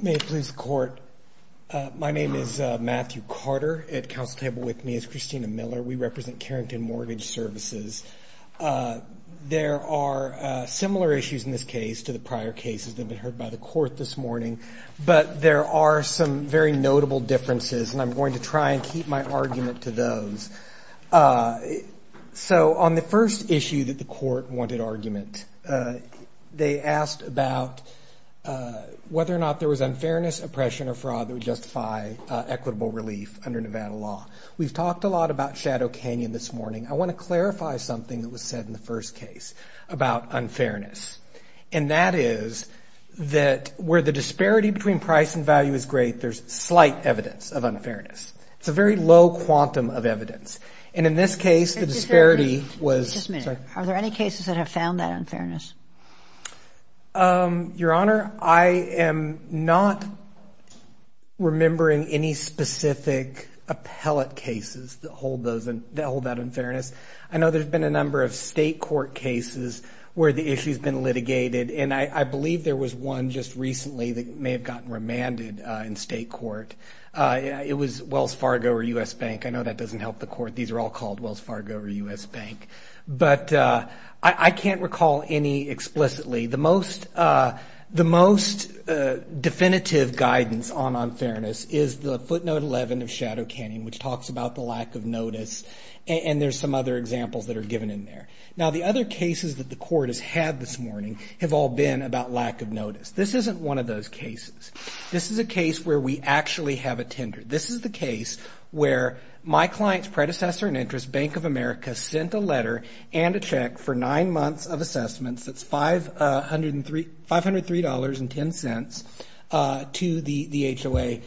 May it please the court. My name is Matthew Carter. At the council table with me is Christina Miller. We represent Carrington Mortgage Services. There are similar issues in this case to the prior cases that have been heard by the court this morning, but there are some very notable differences and I'm going to try and keep my argument to those. So, on the first issue that the court wanted argument, they asked about whether or not there was unfairness, oppression, or fraud that would justify equitable relief under Nevada law. We've talked a lot about Shadow Canyon this morning. I want to clarify something that was said in the first case about unfairness, and that is that where the disparity between price and value is great, there's slight evidence of unfairness. It's a very low quantum of evidence. And in this case, the disparity was... Just a minute. Are there any cases that have found that unfairness? Your Honor, I am not remembering any specific appellate cases that hold that unfairness. I know there's been a number of state court cases where the issue's been litigated, and I believe there was one just recently that may have gotten remanded in state court. It was Wells Fargo or U.S. Bank. I know that doesn't help the court. These are all called Wells Fargo or U.S. Bank. But I can't recall any explicitly. The most definitive guidance on unfairness is the footnote 11 of Shadow Canyon, which talks about the lack of notice, and there's some other examples that are given in there. Now, the other cases that the court has had this morning have all been about lack of notice. This isn't one of those cases. This is a case where we actually have a tender. This is the case where my client's predecessor in interest, Bank of America, sent a letter and a check for nine months of assessments. That's $503.10 to the HOA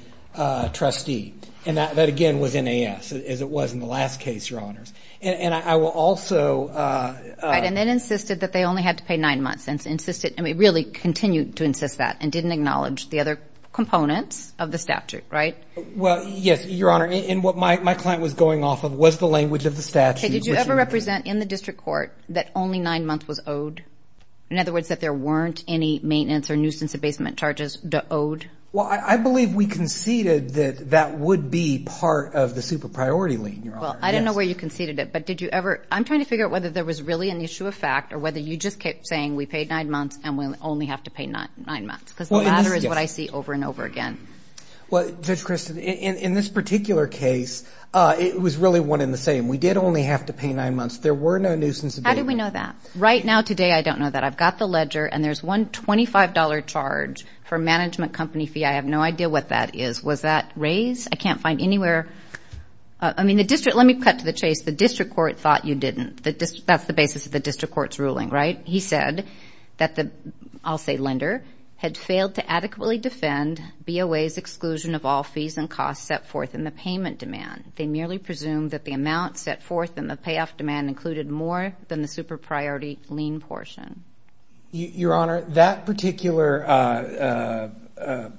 trustee. And that, again, was NAS, as it was in the last case, Your Honors. And I will also... Right, and then insisted that they only had to pay nine months, and insisted... I mean, really continued to insist that, and didn't acknowledge the other components of the statute, right? Well, yes, Your Honor. And what my client was going off of was the language of the statute, which... Did you ever represent in the district court that only nine months was owed? In other words, that there weren't any maintenance or nuisance abasement charges to owed? Well, I believe we conceded that that would be part of the super priority lien, Your Honor. Well, I don't know where you conceded it, but did you ever... I'm trying to figure out whether there was really an issue of fact, or whether you just kept saying, we paid nine months, and we only have to pay nine months? Because the latter is what I see over and over again. Well, Judge Christin, in this particular case, it was really one and the same. We did only have to pay nine months. There were no nuisance abasement charges. How did we know that? Right now, today, I don't know that. I've got the ledger, and there's one $25 charge for management company fee. I have no idea what that is. Was that raised? I can't find anywhere... I mean, the district... Let me cut to the chase. The district court thought you didn't. That's the basis of the district court's ruling, right? He said that the, I'll say lender, had failed to adequately defend BOA's exclusion of all fees and costs set forth in the payment demand. They merely presumed that the amount set forth in the payoff demand included more than the super priority lien portion. Your Honor, that particular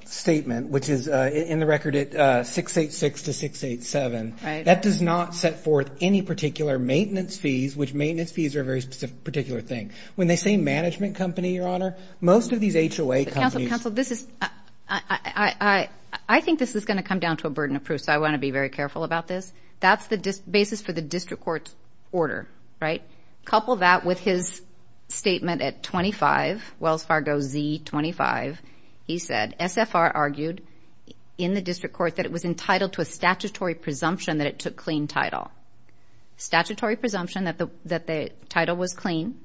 statement, which is in the record at 686 to 687, that does not set forth any particular maintenance fees, which maintenance fees are a very particular thing. When they say management company, Your Honor, most of these HOA companies... Counsel, this is... I think this is going to come down to a burden of proof, so I want to be very careful about this. That's the basis for the district court's order, right? Couple that with his statement at 25, Wells Fargo Z 25. He said, SFR argued in the district court that it was entitled to a statutory presumption that it took clean title. Statutory presumption that the title was clean,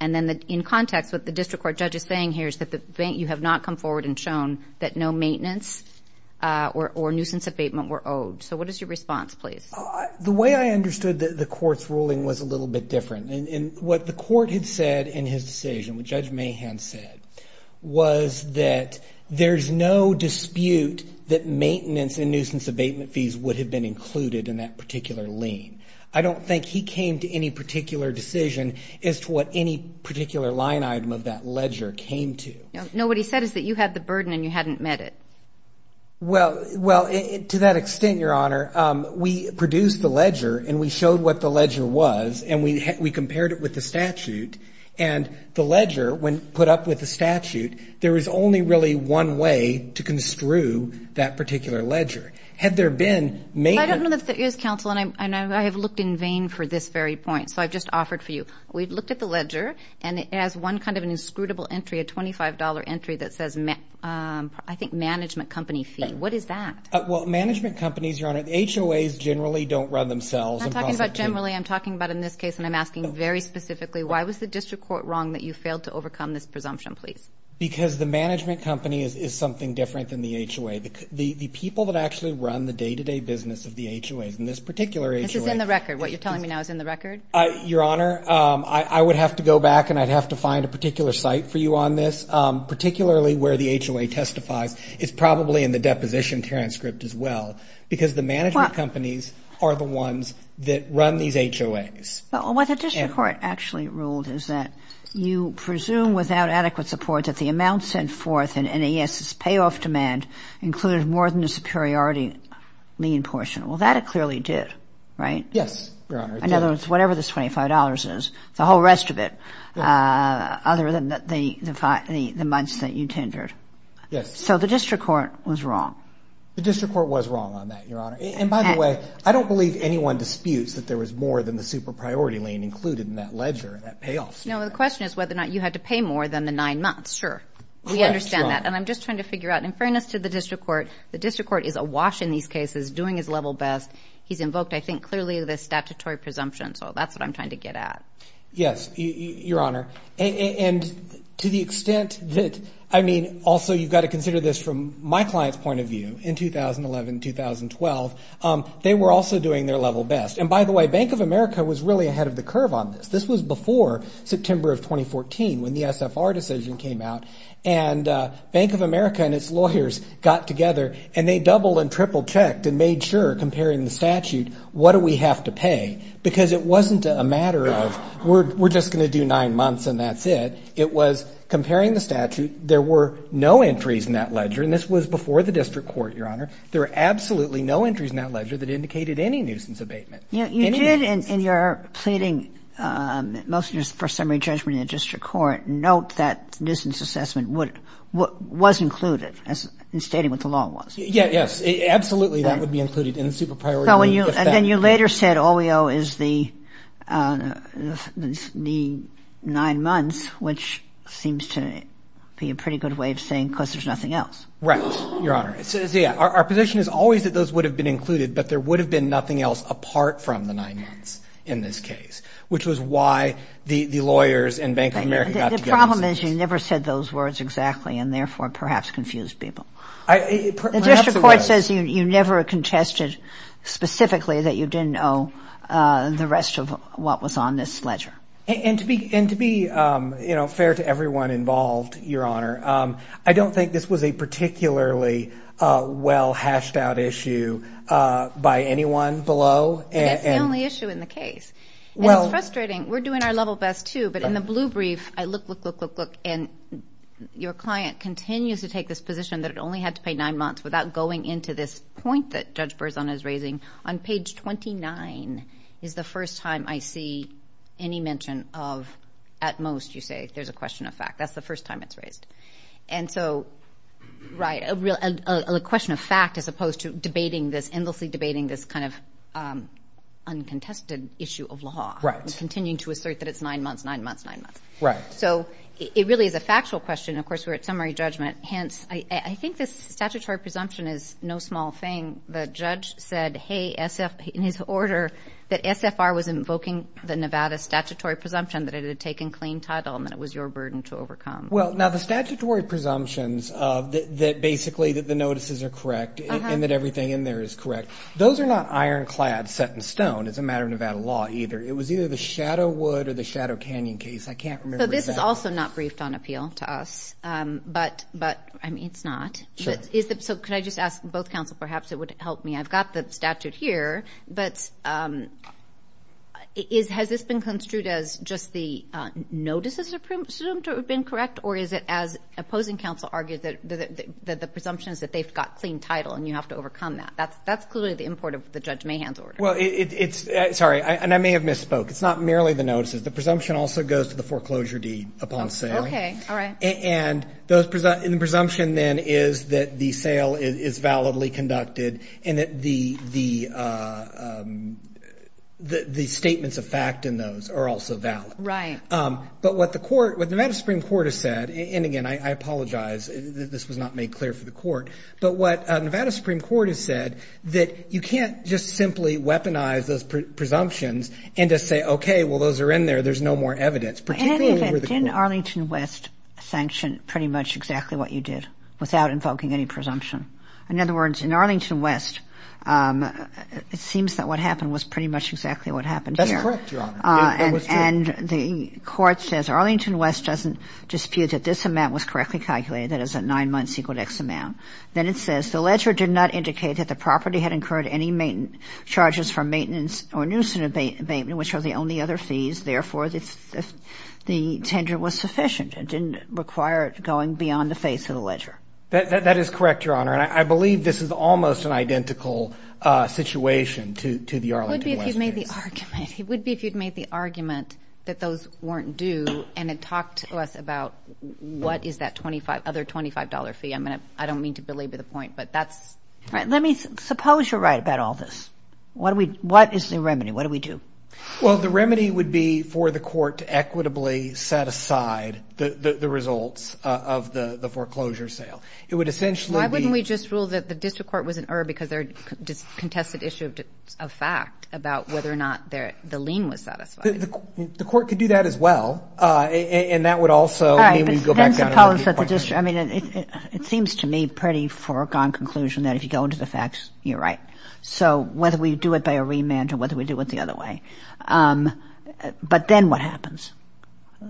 and then in context, what the district court judge is saying here is that you have not come forward and shown that no maintenance or nuisance abatement were owed. So what is your response, please? The way I understood the court's ruling was a little bit different. What the court had abatement fees would have been included in that particular lien. I don't think he came to any particular decision as to what any particular line item of that ledger came to. No, what he said is that you had the burden and you hadn't met it. Well, to that extent, Your Honor, we produced the ledger and we showed what the ledger was and we compared it with the statute, and the ledger, when put up with the statute, there is only really one way to construe that particular ledger. Had there been maintenance... I don't know if there is, counsel, and I have looked in vain for this very point, so I've just offered for you. We've looked at the ledger and it has one kind of an inscrutable entry, a $25 entry that says, I think, management company fee. What is that? Well, management companies, Your Honor, HOAs generally don't run themselves. I'm not talking about generally. I'm talking about in this case, and I'm asking very specifically, why was the district court wrong that you failed to overcome this presumption, please? Because the management company is something different than the HOA. The people that actually run the day-to-day business of the HOAs, in this particular HOA... This is in the record. What you're telling me now is in the record? Your Honor, I would have to go back and I'd have to find a particular site for you on this, particularly where the HOA testifies. It's probably in the deposition transcript as well, because the management companies are the ones that run these HOAs. What the district court actually ruled is that you presume without adequate support that the amount sent forth in NAS's payoff demand included more than the superiority lien portion. Well, that it clearly did, right? Yes, Your Honor. In other words, whatever this $25 is, the whole rest of it, other than the months that you tendered. Yes. So the district court was wrong? The district court was wrong on that, Your Honor. And by the way, I don't believe anyone disputes that there was more than the super-priority lien included in that ledger, that payoff statement. No, the question is whether or not you had to pay more than the nine months. Sure, we understand that. Correct, Your Honor. And I'm just trying to figure out, in fairness to the district court, the district court is awash in these cases, doing his level best. He's invoked, I think, clearly the statutory presumption, so that's what I'm trying to get at. Yes, Your Honor. And to the extent that, I mean, also you've got to consider this from my client's point of view, in 2011, 2012, they were also doing their level best. And by the way, Bank of America was really ahead of the curve on this. This was before September of 2014, when the SFR decision came out, and Bank of America and its lawyers got together and they doubled and tripled checked and made sure, comparing the statute, what do we have to pay, because it wasn't a matter of we're just going to do nine months and that's it. It was comparing the statute. There were no entries in that ledger, and this was before the district court, Your Honor. There were absolutely no entries in that ledger that indicated any nuisance abatement. You did in your pleading motion for summary judgment in the district court note that nuisance assessment was included in stating what the law was. Yes, absolutely that would be included in the super priority rule. And then you later said all we owe is the nine months, which seems to be a pretty good way of saying because there's nothing else. Right, Your Honor. Our position is always that those would have been included, but there would have been nothing else apart from the nine months in this case, which was why the lawyers and Bank of America got together. The problem is you never said those words exactly, and therefore perhaps confused people. The district court says you never contested specifically that you didn't owe the rest of what was on this ledger. And to be fair to everyone involved, Your Honor, I don't think this was a particularly well hashed out issue by anyone below. It's the only issue in the case. It's frustrating. We're doing our level best too, but in the blue brief, I look, look, look, look, look, and your client continues to take this position that it only had to pay nine months without going into this point that Judge Berzon is raising on page 29 is the first time I see any mention of at most you say there's a question of fact. That's the first time it's raised. And so, right, a question of fact as opposed to debating this, endlessly debating this kind of uncontested issue of law, continuing to assert that it's nine months, nine months, nine months. Right. So it really is a factual question. Of course, we're at summary judgment, hence, I think this statutory presumption is no small thing. The judge said, hey, in his order, that SFR was invoking the Nevada statutory presumption that it had taken clean title and that it was your burden to overcome. Well, now the statutory presumptions of that basically that the notices are correct and that everything in there is correct. Those are not ironclad set in stone as a matter of Nevada law either. It was either the Shadowwood or the Shadow Canyon case. I can't remember. This is also not briefed on appeal to us, but I mean, it's not. So could I just ask both counsel, perhaps it would help me. I've got the statute here, but has this been construed as just the notices assumed to have been correct or is it as opposing counsel argued that the presumption is that they've got clean title and you have to overcome that? That's clearly the import of the Judge Mahan's order. Well, it's, sorry, and I may have misspoke. It's not merely the notices. The presumption also goes to the foreclosure deed upon sale and the presumption then is that the sale is validly conducted and that the statements of fact in those are also valid. But what the Nevada Supreme Court has said, and again, I apologize, this was not made clear for the court, but what Nevada Supreme Court has said that you can't just simply weaponize those presumptions and just say, okay, well, those are in there. There's no more evidence. In any event, didn't Arlington West sanction pretty much exactly what you did without invoking any presumption? In other words, in Arlington West, it seems that what happened was pretty much exactly what happened here. That's correct, Your Honor. It was true. And the court says Arlington West doesn't dispute that this amount was correctly calculated, that is at nine months equal to X amount. Then it says, the ledger did not indicate that the property had incurred any charges for maintenance or nuisance abatement, which are the only other fees, therefore, the tender was sufficient. It didn't require going beyond the face of the ledger. That is correct, Your Honor. And I believe this is almost an identical situation to the Arlington West case. It would be if you'd made the argument that those weren't due and had talked to us about what is that other $25 fee. I don't mean to belabor the point, but that's... All right. Suppose you're right about all this. What is the remedy? What do we do? Well, the remedy would be for the court to equitably set aside the results of the foreclosure sale. It would essentially be... Why wouldn't we just rule that the district court was an error because they're a contested issue of fact about whether or not the lien was satisfied? The court could do that as well. And that would also... All right. I suppose that the district... I mean, it seems to me pretty foregone conclusion that if you go into the facts, you're right. So whether we do it by a remand or whether we do it the other way. But then what happens?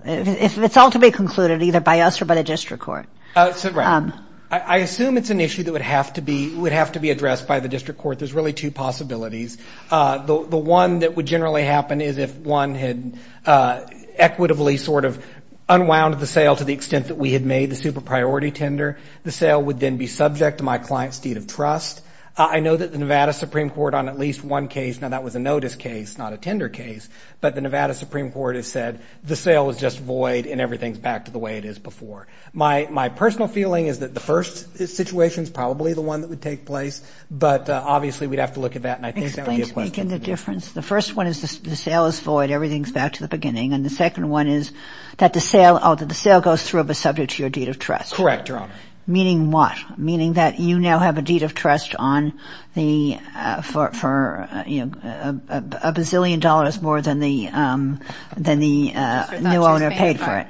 If it's all to be concluded either by us or by the district court. That's right. I assume it's an issue that would have to be addressed by the district court. There's really two possibilities. The one that would generally happen is if one had equitably sort of unwound the sale to the extent that we had made the super priority tender, the sale would then be subject to my client's deed of trust. I know that the Nevada Supreme Court on at least one case... Now, that was a notice case, not a tender case. But the Nevada Supreme Court has said the sale was just void and everything's back to the way it is before. My personal feeling is that the first situation is probably the one that would take place. But obviously, we'd have to look at that. And I think that would be a question... Explain to me the difference. The first one is the sale is void. Everything's back to the beginning. And the second one is that the sale goes through but subject to your deed of trust. Correct, Your Honor. Meaning what? Meaning that you now have a deed of trust for a bazillion dollars more than the new owner paid for it.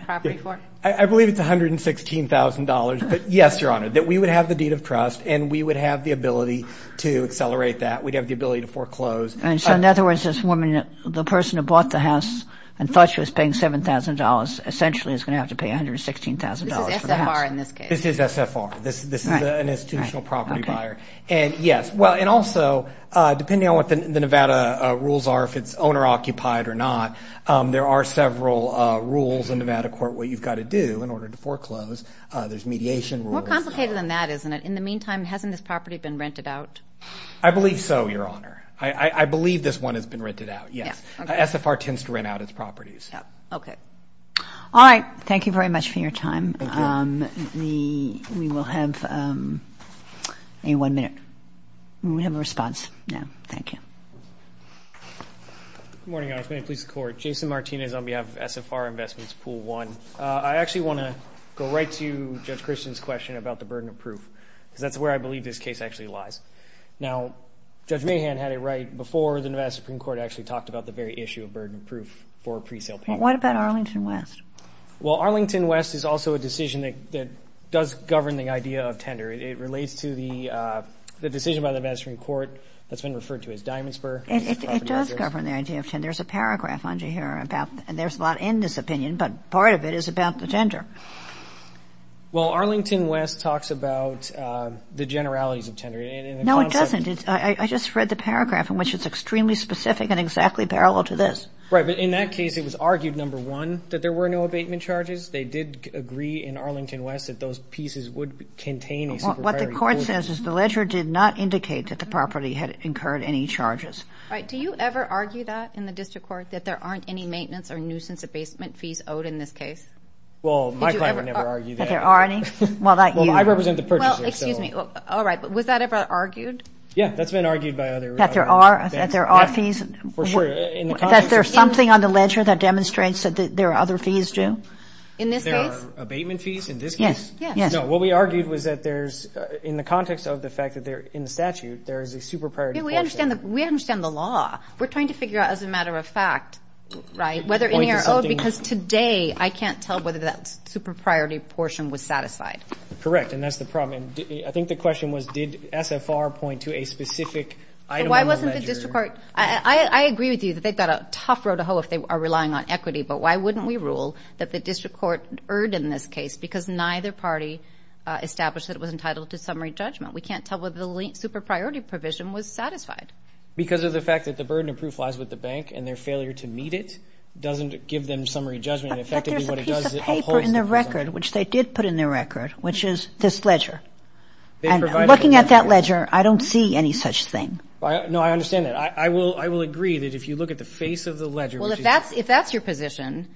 I believe it's $116,000, but yes, Your Honor, that we would have the deed of trust and we would have the ability to accelerate that. We'd have the ability to foreclose. And so, in other words, this woman, the person who bought the house and thought she was paying $7,000, essentially is going to have to pay $116,000 for the house. This is SFR in this case. This is SFR. This is an institutional property buyer. And yes. Well, and also, depending on what the Nevada rules are, if it's owner-occupied or not, there are several rules in Nevada court what you've got to do in order to foreclose. There's mediation rules. More complicated than that, isn't it? In the meantime, hasn't this property been rented out? I believe so, Your Honor. I believe this one has been rented out, yes. SFR tends to rent out its properties. Okay. All right. Thank you very much for your time. Thank you. We will have a one-minute. We will have a response now. Thank you. Good morning, Your Honor. Please support. Jason Martinez on behalf of SFR Investments, Pool 1. I actually want to go right to Judge Christian's question about the burden of proof, because He has a lot of evidence. He has a lot of evidence. He has a lot of evidence. He has a lot of evidence. He has a lot of evidence. the Nevada Supreme Court actually talked about the very issue of burden of proof for a pre-sale payment. Well, what about Arlington West? Well, Arlington West is also a decision that does govern the idea of tender. It relates to the decision by the Nevada Supreme Court that's been referred to as Diamond Spur. It does govern the idea of tender. There's a paragraph on you here about, and there's a lot in this opinion, but part of it is about the tender. Well, Arlington West talks about the generalities of tender. No, it doesn't. I just read the paragraph in which it's extremely specific and exactly parallel to this. Right, but in that case, it was argued, number one, that there were no abatement charges. They did agree in Arlington West that those pieces would contain a supervisory burden. What the court says is the ledger did not indicate that the property had incurred any charges. Right. Do you ever argue that in the district court, that there aren't any maintenance or nuisance abatement fees owed in this case? Well, my client would never argue that. There are any? Well, not you. Well, I represent the purchaser. Well, excuse me. All right, but was that ever argued? Yeah, that's been argued by others. That there are? That there are fees? For sure. That there's something on the ledger that demonstrates that there are other fees due? In this case? There are abatement fees in this case? Yes. Yes. No, what we argued was that there's, in the context of the fact that they're in the statute, there is a super priority portion. Yeah, we understand the law. We're trying to figure out as a matter of fact, right, whether any are owed because today I can't tell whether that super priority portion was satisfied. Correct, and that's the problem. I think the question was, did SFR point to a specific item on the ledger? Why wasn't the district court, I agree with you that they've got a tough road to hoe if they are relying on equity, but why wouldn't we rule that the district court erred in this case because neither party established that it was entitled to summary judgment? We can't tell whether the super priority provision was satisfied. Because of the fact that the burden of proof lies with the bank and their failure to meet it doesn't give them summary judgment. But there's a piece of paper in the record, which they did put in the record, which is this ledger. And looking at that ledger, I don't see any such thing. No, I understand that. I will agree that if you look at the face of the ledger, which is Well, if that's your position,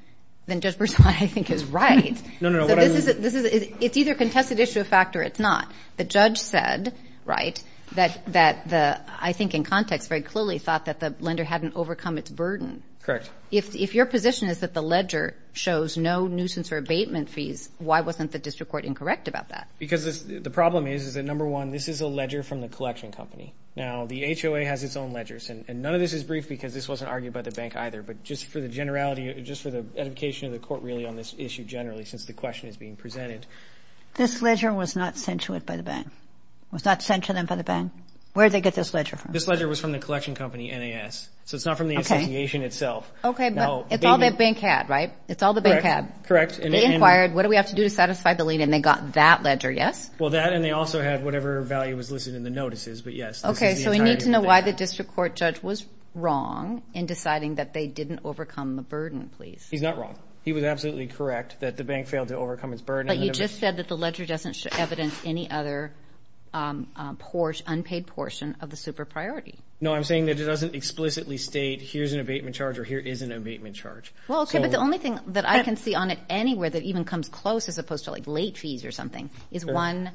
then Judge Berzon, I think, is right. No, no, no. What I mean It's either a contested issue of fact or it's not. The judge said, right, that I think in context very clearly thought that the lender hadn't overcome its burden. Correct. If your position is that the ledger shows no nuisance or abatement fees, why wasn't the district court incorrect about that? Because the problem is that, number one, this is a ledger from the collection company. Now, the HOA has its own ledgers and none of this is brief because this wasn't argued by the bank either. But just for the generality, just for the edification of the court really on this issue generally since the question is being presented. This ledger was not sent to it by the bank? Was not sent to them by the bank? Where'd they get this ledger from? This ledger was from the collection company, NAS. So it's not from the association itself. Okay, but it's all the bank had, right? It's all the bank had. Correct. They inquired, what do we have to do to satisfy the lien, and they got that ledger, yes? Well, that and they also had whatever value was listed in the notices, but yes, this is the entirety of the bank. Okay, so we need to know why the district court judge was wrong in deciding that they didn't overcome the burden, please. He's not wrong. He was absolutely correct that the bank failed to overcome its burden. But you just said that the ledger doesn't evidence any other unpaid portion of the super priority. No, I'm saying that it doesn't explicitly state here's an abatement charge or here is an abatement charge. Well, okay, but the only thing that I can see on it anywhere that even comes close as opposed to like late fees or something is one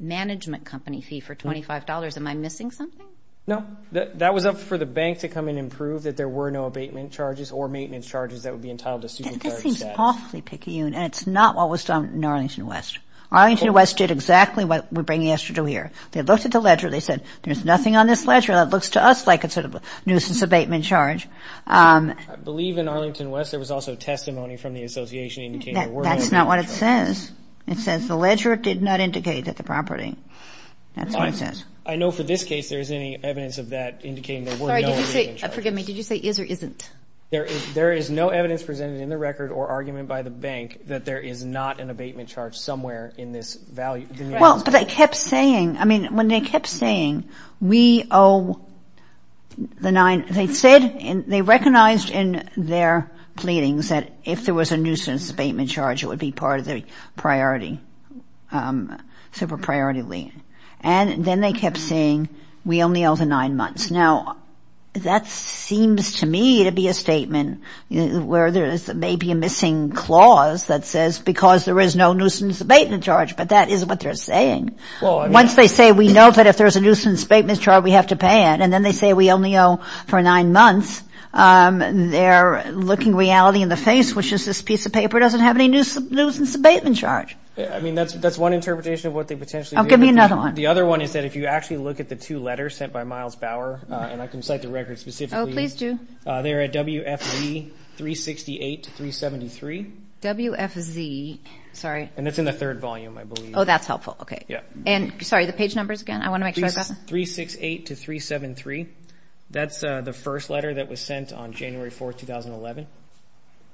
management company fee for $25. Am I missing something? No, that was up for the bank to come and improve that there were no abatement charges or maintenance charges that would be entitled to super priority status. This seems awfully picky, and it's not what was done in Arlington West. Arlington West did exactly what we're bringing us to do here. They looked at the ledger, they said, there's nothing on this ledger that looks to us like sort of a nuisance abatement charge. I believe in Arlington West there was also testimony from the association indicating there were no abatement charges. That's not what it says. It says the ledger did not indicate that the property, that's what it says. I know for this case there isn't any evidence of that indicating there were no abatement charges. Sorry, did you say, forgive me, did you say is or isn't? There is no evidence presented in the record or argument by the bank that there is not an abatement charge somewhere in this value. Well, but they kept saying, I mean, when they kept saying we owe the nine, they said, they recognized in their pleadings that if there was a nuisance abatement charge it would be part of the priority, super priority lien. And then they kept saying we only owe the nine months. Now, that seems to me to be a statement where there is maybe a missing clause that says because there is no nuisance abatement charge, but that isn't what they're saying. Once they say we know that if there's a nuisance abatement charge we have to pay it, and then they say we only owe for nine months, they're looking reality in the face, which is this piece of paper doesn't have any nuisance abatement charge. I mean, that's one interpretation of what they potentially do. Oh, give me another one. The other one is that if you actually look at the two letters sent by Miles Bauer, and I can cite the record specifically. Oh, please do. They're at WFZ 368 to 373. WFZ, sorry. And it's in the third volume, I believe. Oh, that's helpful. Okay. Yeah. And, sorry, the page numbers again? I want to make sure I've got them. 368 to 373. That's the first letter that was sent on January 4th, 2011,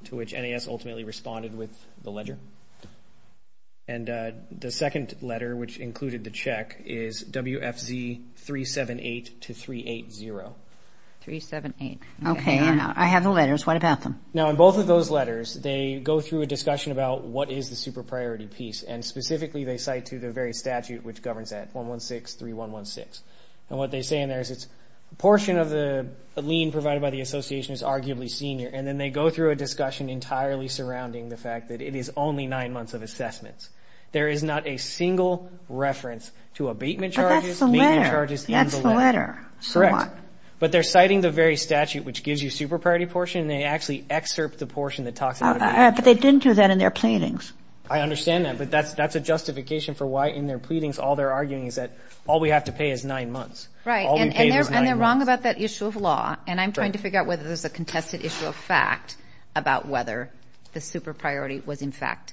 to which NAS ultimately responded with the ledger. And the second letter, which included the check, is WFZ 378 to 380. 378. Okay. I have the letters. What about them? Now, in both of those letters, they go through a discussion about what is the super-priority piece. And specifically, they cite to the very statute, which governs that, 116.3116. And what they say in there is it's a portion of the lien provided by the association is arguably senior. And then they go through a discussion entirely surrounding the fact that it is only nine months of assessments. There is not a single reference to abatement charges, payment charges in the letter. But that's the letter. That's the letter. So what? Correct. But they're citing the very statute, which gives you super-priority portion. And they actually excerpt the portion that talks about abatement charges. But they didn't do that in their pleadings. I understand that. But that's a justification for why, in their pleadings, all they're arguing is that all we have to pay is nine months. Right. All we pay is nine months. And they're wrong about that issue of law. And I'm trying to figure out whether there's a contested issue of fact about whether the super-priority was, in fact,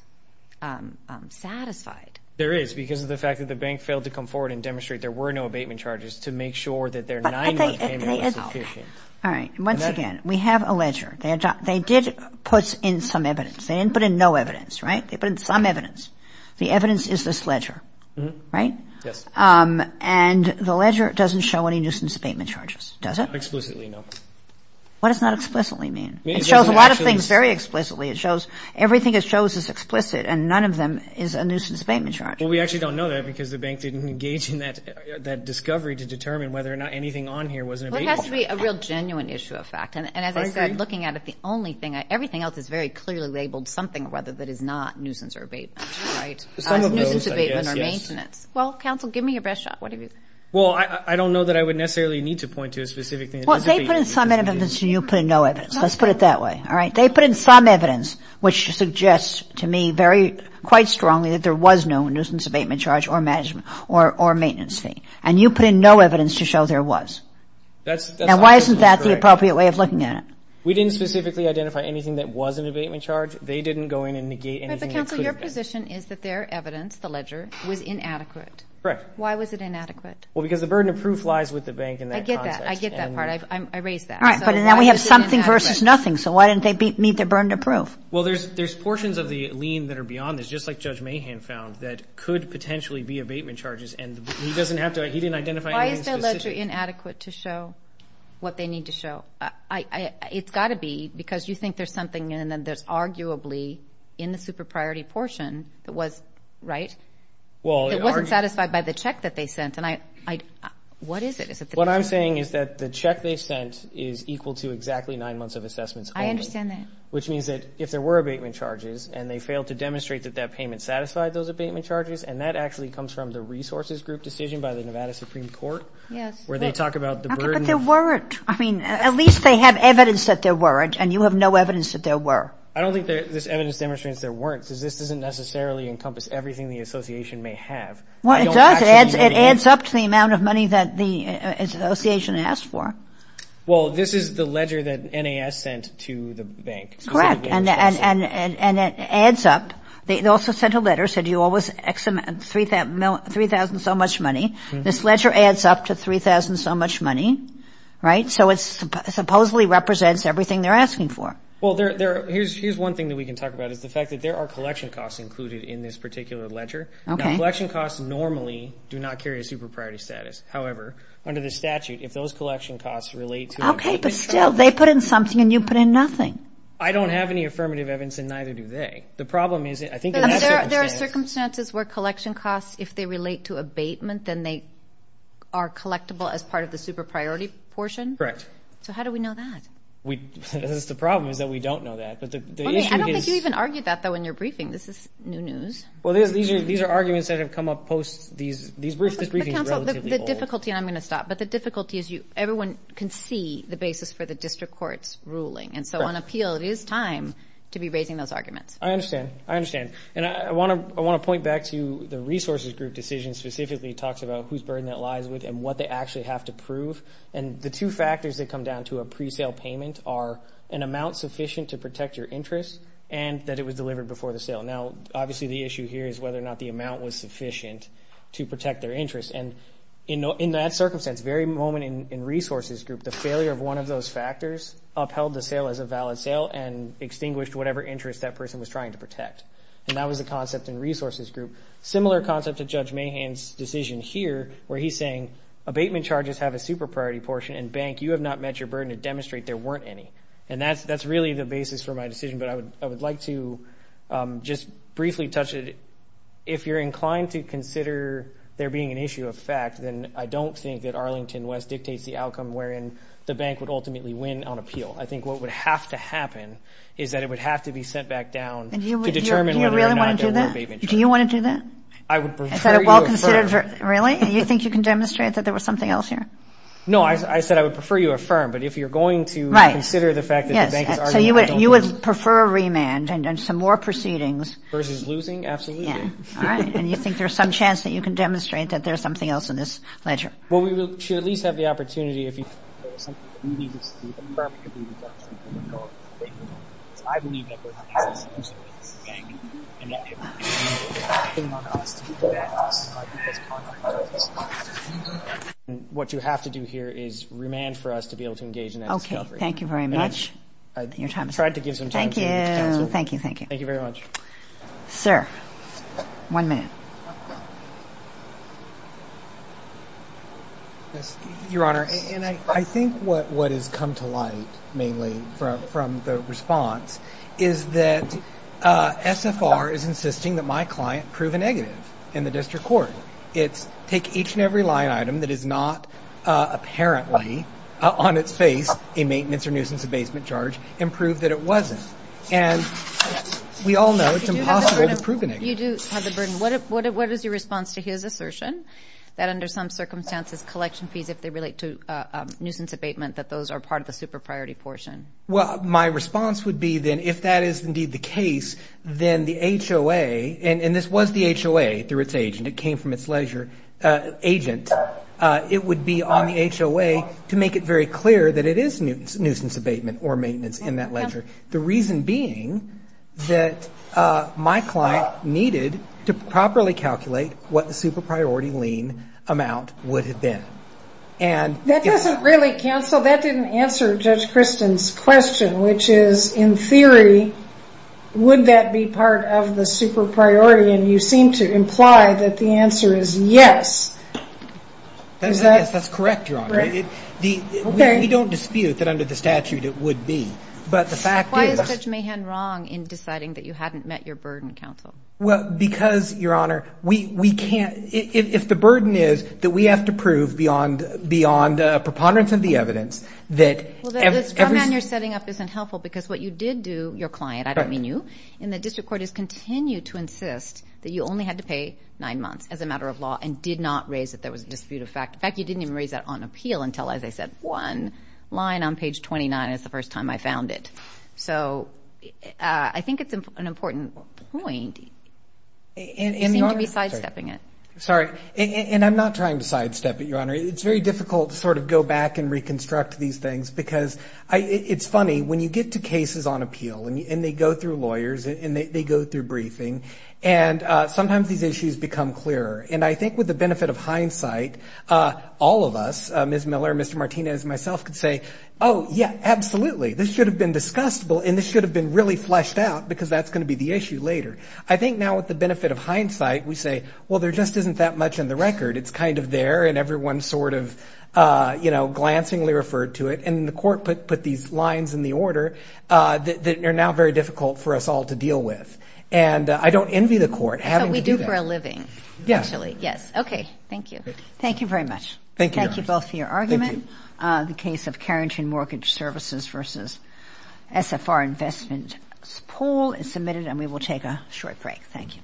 satisfied. There is, because of the fact that the bank failed to come forward and demonstrate there were no abatement charges to make sure that their nine-month payment was sufficient. All right. And once again, we have a ledger. They did put in some evidence. They didn't put in no evidence, right? They put in some evidence. The evidence is this ledger, right? Yes. And the ledger doesn't show any nuisance abatement charges, does it? Explicitly, no. What does not explicitly mean? It shows a lot of things very explicitly. It shows everything it shows is explicit, and none of them is a nuisance abatement charge. Well, we actually don't know that because the bank didn't engage in that discovery to determine whether or not anything on here was an abatement charge. It has to be a real genuine issue of fact. And as I said, looking at it, the only thing I, everything else is very clearly labeled something or other that is not nuisance or abatement, right? Some of those, I guess, yes. Nuisance abatement or maintenance. Well, counsel, give me your best shot. What have you? Well, I don't know that I would necessarily need to point to a specific thing. Well, they put in some evidence and you put in no evidence. Let's put it that way. All right. They put in some evidence, which suggests to me very, quite strongly that there was no nuisance abatement charge or management or maintenance fee. And you put in no evidence to show there was. Now, why isn't that the appropriate way of looking at it? We didn't specifically identify anything that was an abatement charge. They didn't go in and negate anything that could have been. But counsel, your position is that their evidence, the ledger, was inadequate. Correct. Why was it inadequate? Well, because the burden of proof lies with the bank in that context. I get that. I get that part. I raise that. All right. But then we have something versus nothing. So why didn't they meet their burden of proof? Well, there's portions of the lien that are beyond this, just like Judge Mahan found, that could potentially be abatement charges. And he doesn't have to, he didn't identify anything specific. So why was your inadequate to show what they need to show? It's got to be because you think there's something in there that's arguably in the super priority portion that was, right, that wasn't satisfied by the check that they sent. What is it? What I'm saying is that the check they sent is equal to exactly nine months of assessments only. I understand that. Which means that if there were abatement charges and they failed to demonstrate that that payment satisfied those abatement charges, and that actually comes from the resources group decision by the Nevada Supreme Court. Yes. Where they talk about the burden. Okay. But there weren't. I mean, at least they have evidence that there weren't, and you have no evidence that there were. I don't think this evidence demonstrates there weren't, because this doesn't necessarily encompass everything the association may have. Well, it does. I don't actually know the answer. It adds up to the amount of money that the association asked for. Well, this is the ledger that NAS sent to the bank. Correct. And it adds up. They also sent a letter, said you owe us 3,000 so much money. This ledger adds up to 3,000 so much money, right? So it supposedly represents everything they're asking for. Well, here's one thing that we can talk about is the fact that there are collection costs included in this particular ledger. Now, collection costs normally do not carry a super priority status. However, under the statute, if those collection costs relate to abatement charges. Okay, but still, they put in something and you put in nothing. I don't have any affirmative evidence and neither do they. The problem is, I think in that circumstance. In those circumstances where collection costs, if they relate to abatement, then they are collectible as part of the super priority portion? Correct. So how do we know that? That's the problem, is that we don't know that, but the issue is. I don't think you even argued that though in your briefing. This is new news. Well, these are arguments that have come up post these briefings relatively old. The difficulty, and I'm going to stop, but the difficulty is everyone can see the basis for the district court's ruling. And so on appeal, it is time to be raising those arguments. I understand. I understand. And I want to point back to the resources group decision specifically talks about whose burden that lies with and what they actually have to prove. And the two factors that come down to a pre-sale payment are an amount sufficient to protect your interest and that it was delivered before the sale. Now, obviously, the issue here is whether or not the amount was sufficient to protect their interest. And in that circumstance, very moment in resources group, the failure of one of those factors upheld the sale as a valid sale and extinguished whatever interest that person was trying to And that was the concept in resources group. Similar concept to Judge Mahan's decision here where he's saying abatement charges have a super priority portion and bank, you have not met your burden to demonstrate there weren't any. And that's really the basis for my decision. But I would like to just briefly touch it. If you're inclined to consider there being an issue of fact, then I don't think that Arlington West dictates the outcome wherein the bank would ultimately win on appeal. I think what would have to happen is that it would have to be sent back down to determine whether or not there were abatement charges. Do you really want to do that? Do you want to do that? I would prefer you affirm. Is that a well-considered... Really? You think you can demonstrate that there was something else here? No. I said I would prefer you affirm. But if you're going to... Right. ...consider the fact that the bank is arguing... Yes. So, you would prefer a remand and some more proceedings... Versus losing? Absolutely. Yeah. All right. And you think there's some chance that you can demonstrate that there's something else in this ledger? Well, we should at least have the opportunity if you... I believe that there's a case in which there was a bank and that it would depend on us to prevent us from arguing those contract charges. What you have to do here is remand for us to be able to engage in that discovery. Okay. Thank you very much. Your time is up. I tried to give some time to... Thank you. Thank you. Thank you. Thank you very much. Sir. One minute. Yes. Your Honor, I think what has come to light mainly from the response is that SFR is insisting that my client prove a negative in the district court. It's take each and every line item that is not apparently on its face a maintenance or nuisance abasement charge and prove that it wasn't. And we all know it's impossible to prove a negative. You do have the burden. What is your response to his assertion that under some circumstances collection fees have to relate to nuisance abatement, that those are part of the super priority portion? Well, my response would be then if that is indeed the case, then the HOA, and this was the HOA through its agent, it came from its leisure agent. It would be on the HOA to make it very clear that it is nuisance abatement or maintenance in that ledger. The reason being that my client needed to properly calculate what the super priority lien amount would have been. And that doesn't really cancel. That didn't answer Judge Christen's question, which is in theory, would that be part of the super priority? And you seem to imply that the answer is yes. That's correct, Your Honor. We don't dispute that under the statute it would be. But the fact is... Why is Judge Mahan wrong in deciding that you hadn't met your burden counsel? Well, because, Your Honor, we can't... If the burden is that we have to prove beyond preponderance of the evidence that... Well, the comment you're setting up isn't helpful because what you did do, your client, I don't mean you, in the district court is continue to insist that you only had to pay nine months as a matter of law and did not raise that there was a dispute of fact. In fact, you didn't even raise that on appeal until, as I said, one line on page 29 is the first time I found it. So, I think it's an important point and you seem to be sidestepping it. Sorry. And I'm not trying to sidestep it, Your Honor. It's very difficult to sort of go back and reconstruct these things because it's funny, when you get to cases on appeal and they go through lawyers and they go through briefing and sometimes these issues become clearer. And I think with the benefit of hindsight, all of us, Ms. Miller, Mr. Martinez, and myself could say, oh, yeah, absolutely, this should have been discussed and this should have been really fleshed out because that's going to be the issue later. I think now with the benefit of hindsight, we say, well, there just isn't that much in the record. It's kind of there and everyone sort of, you know, glancingly referred to it and the court put these lines in the order that are now very difficult for us all to deal with. And I don't envy the court having to do that. That's what we do for a living, actually. Yes. Okay. Thank you. Thank you very much. Thank you. Thank you both for your argument. Thank you. The case of Carrington Mortgage Services versus SFR Investment Pool is submitted and we will take a short break. Thank you.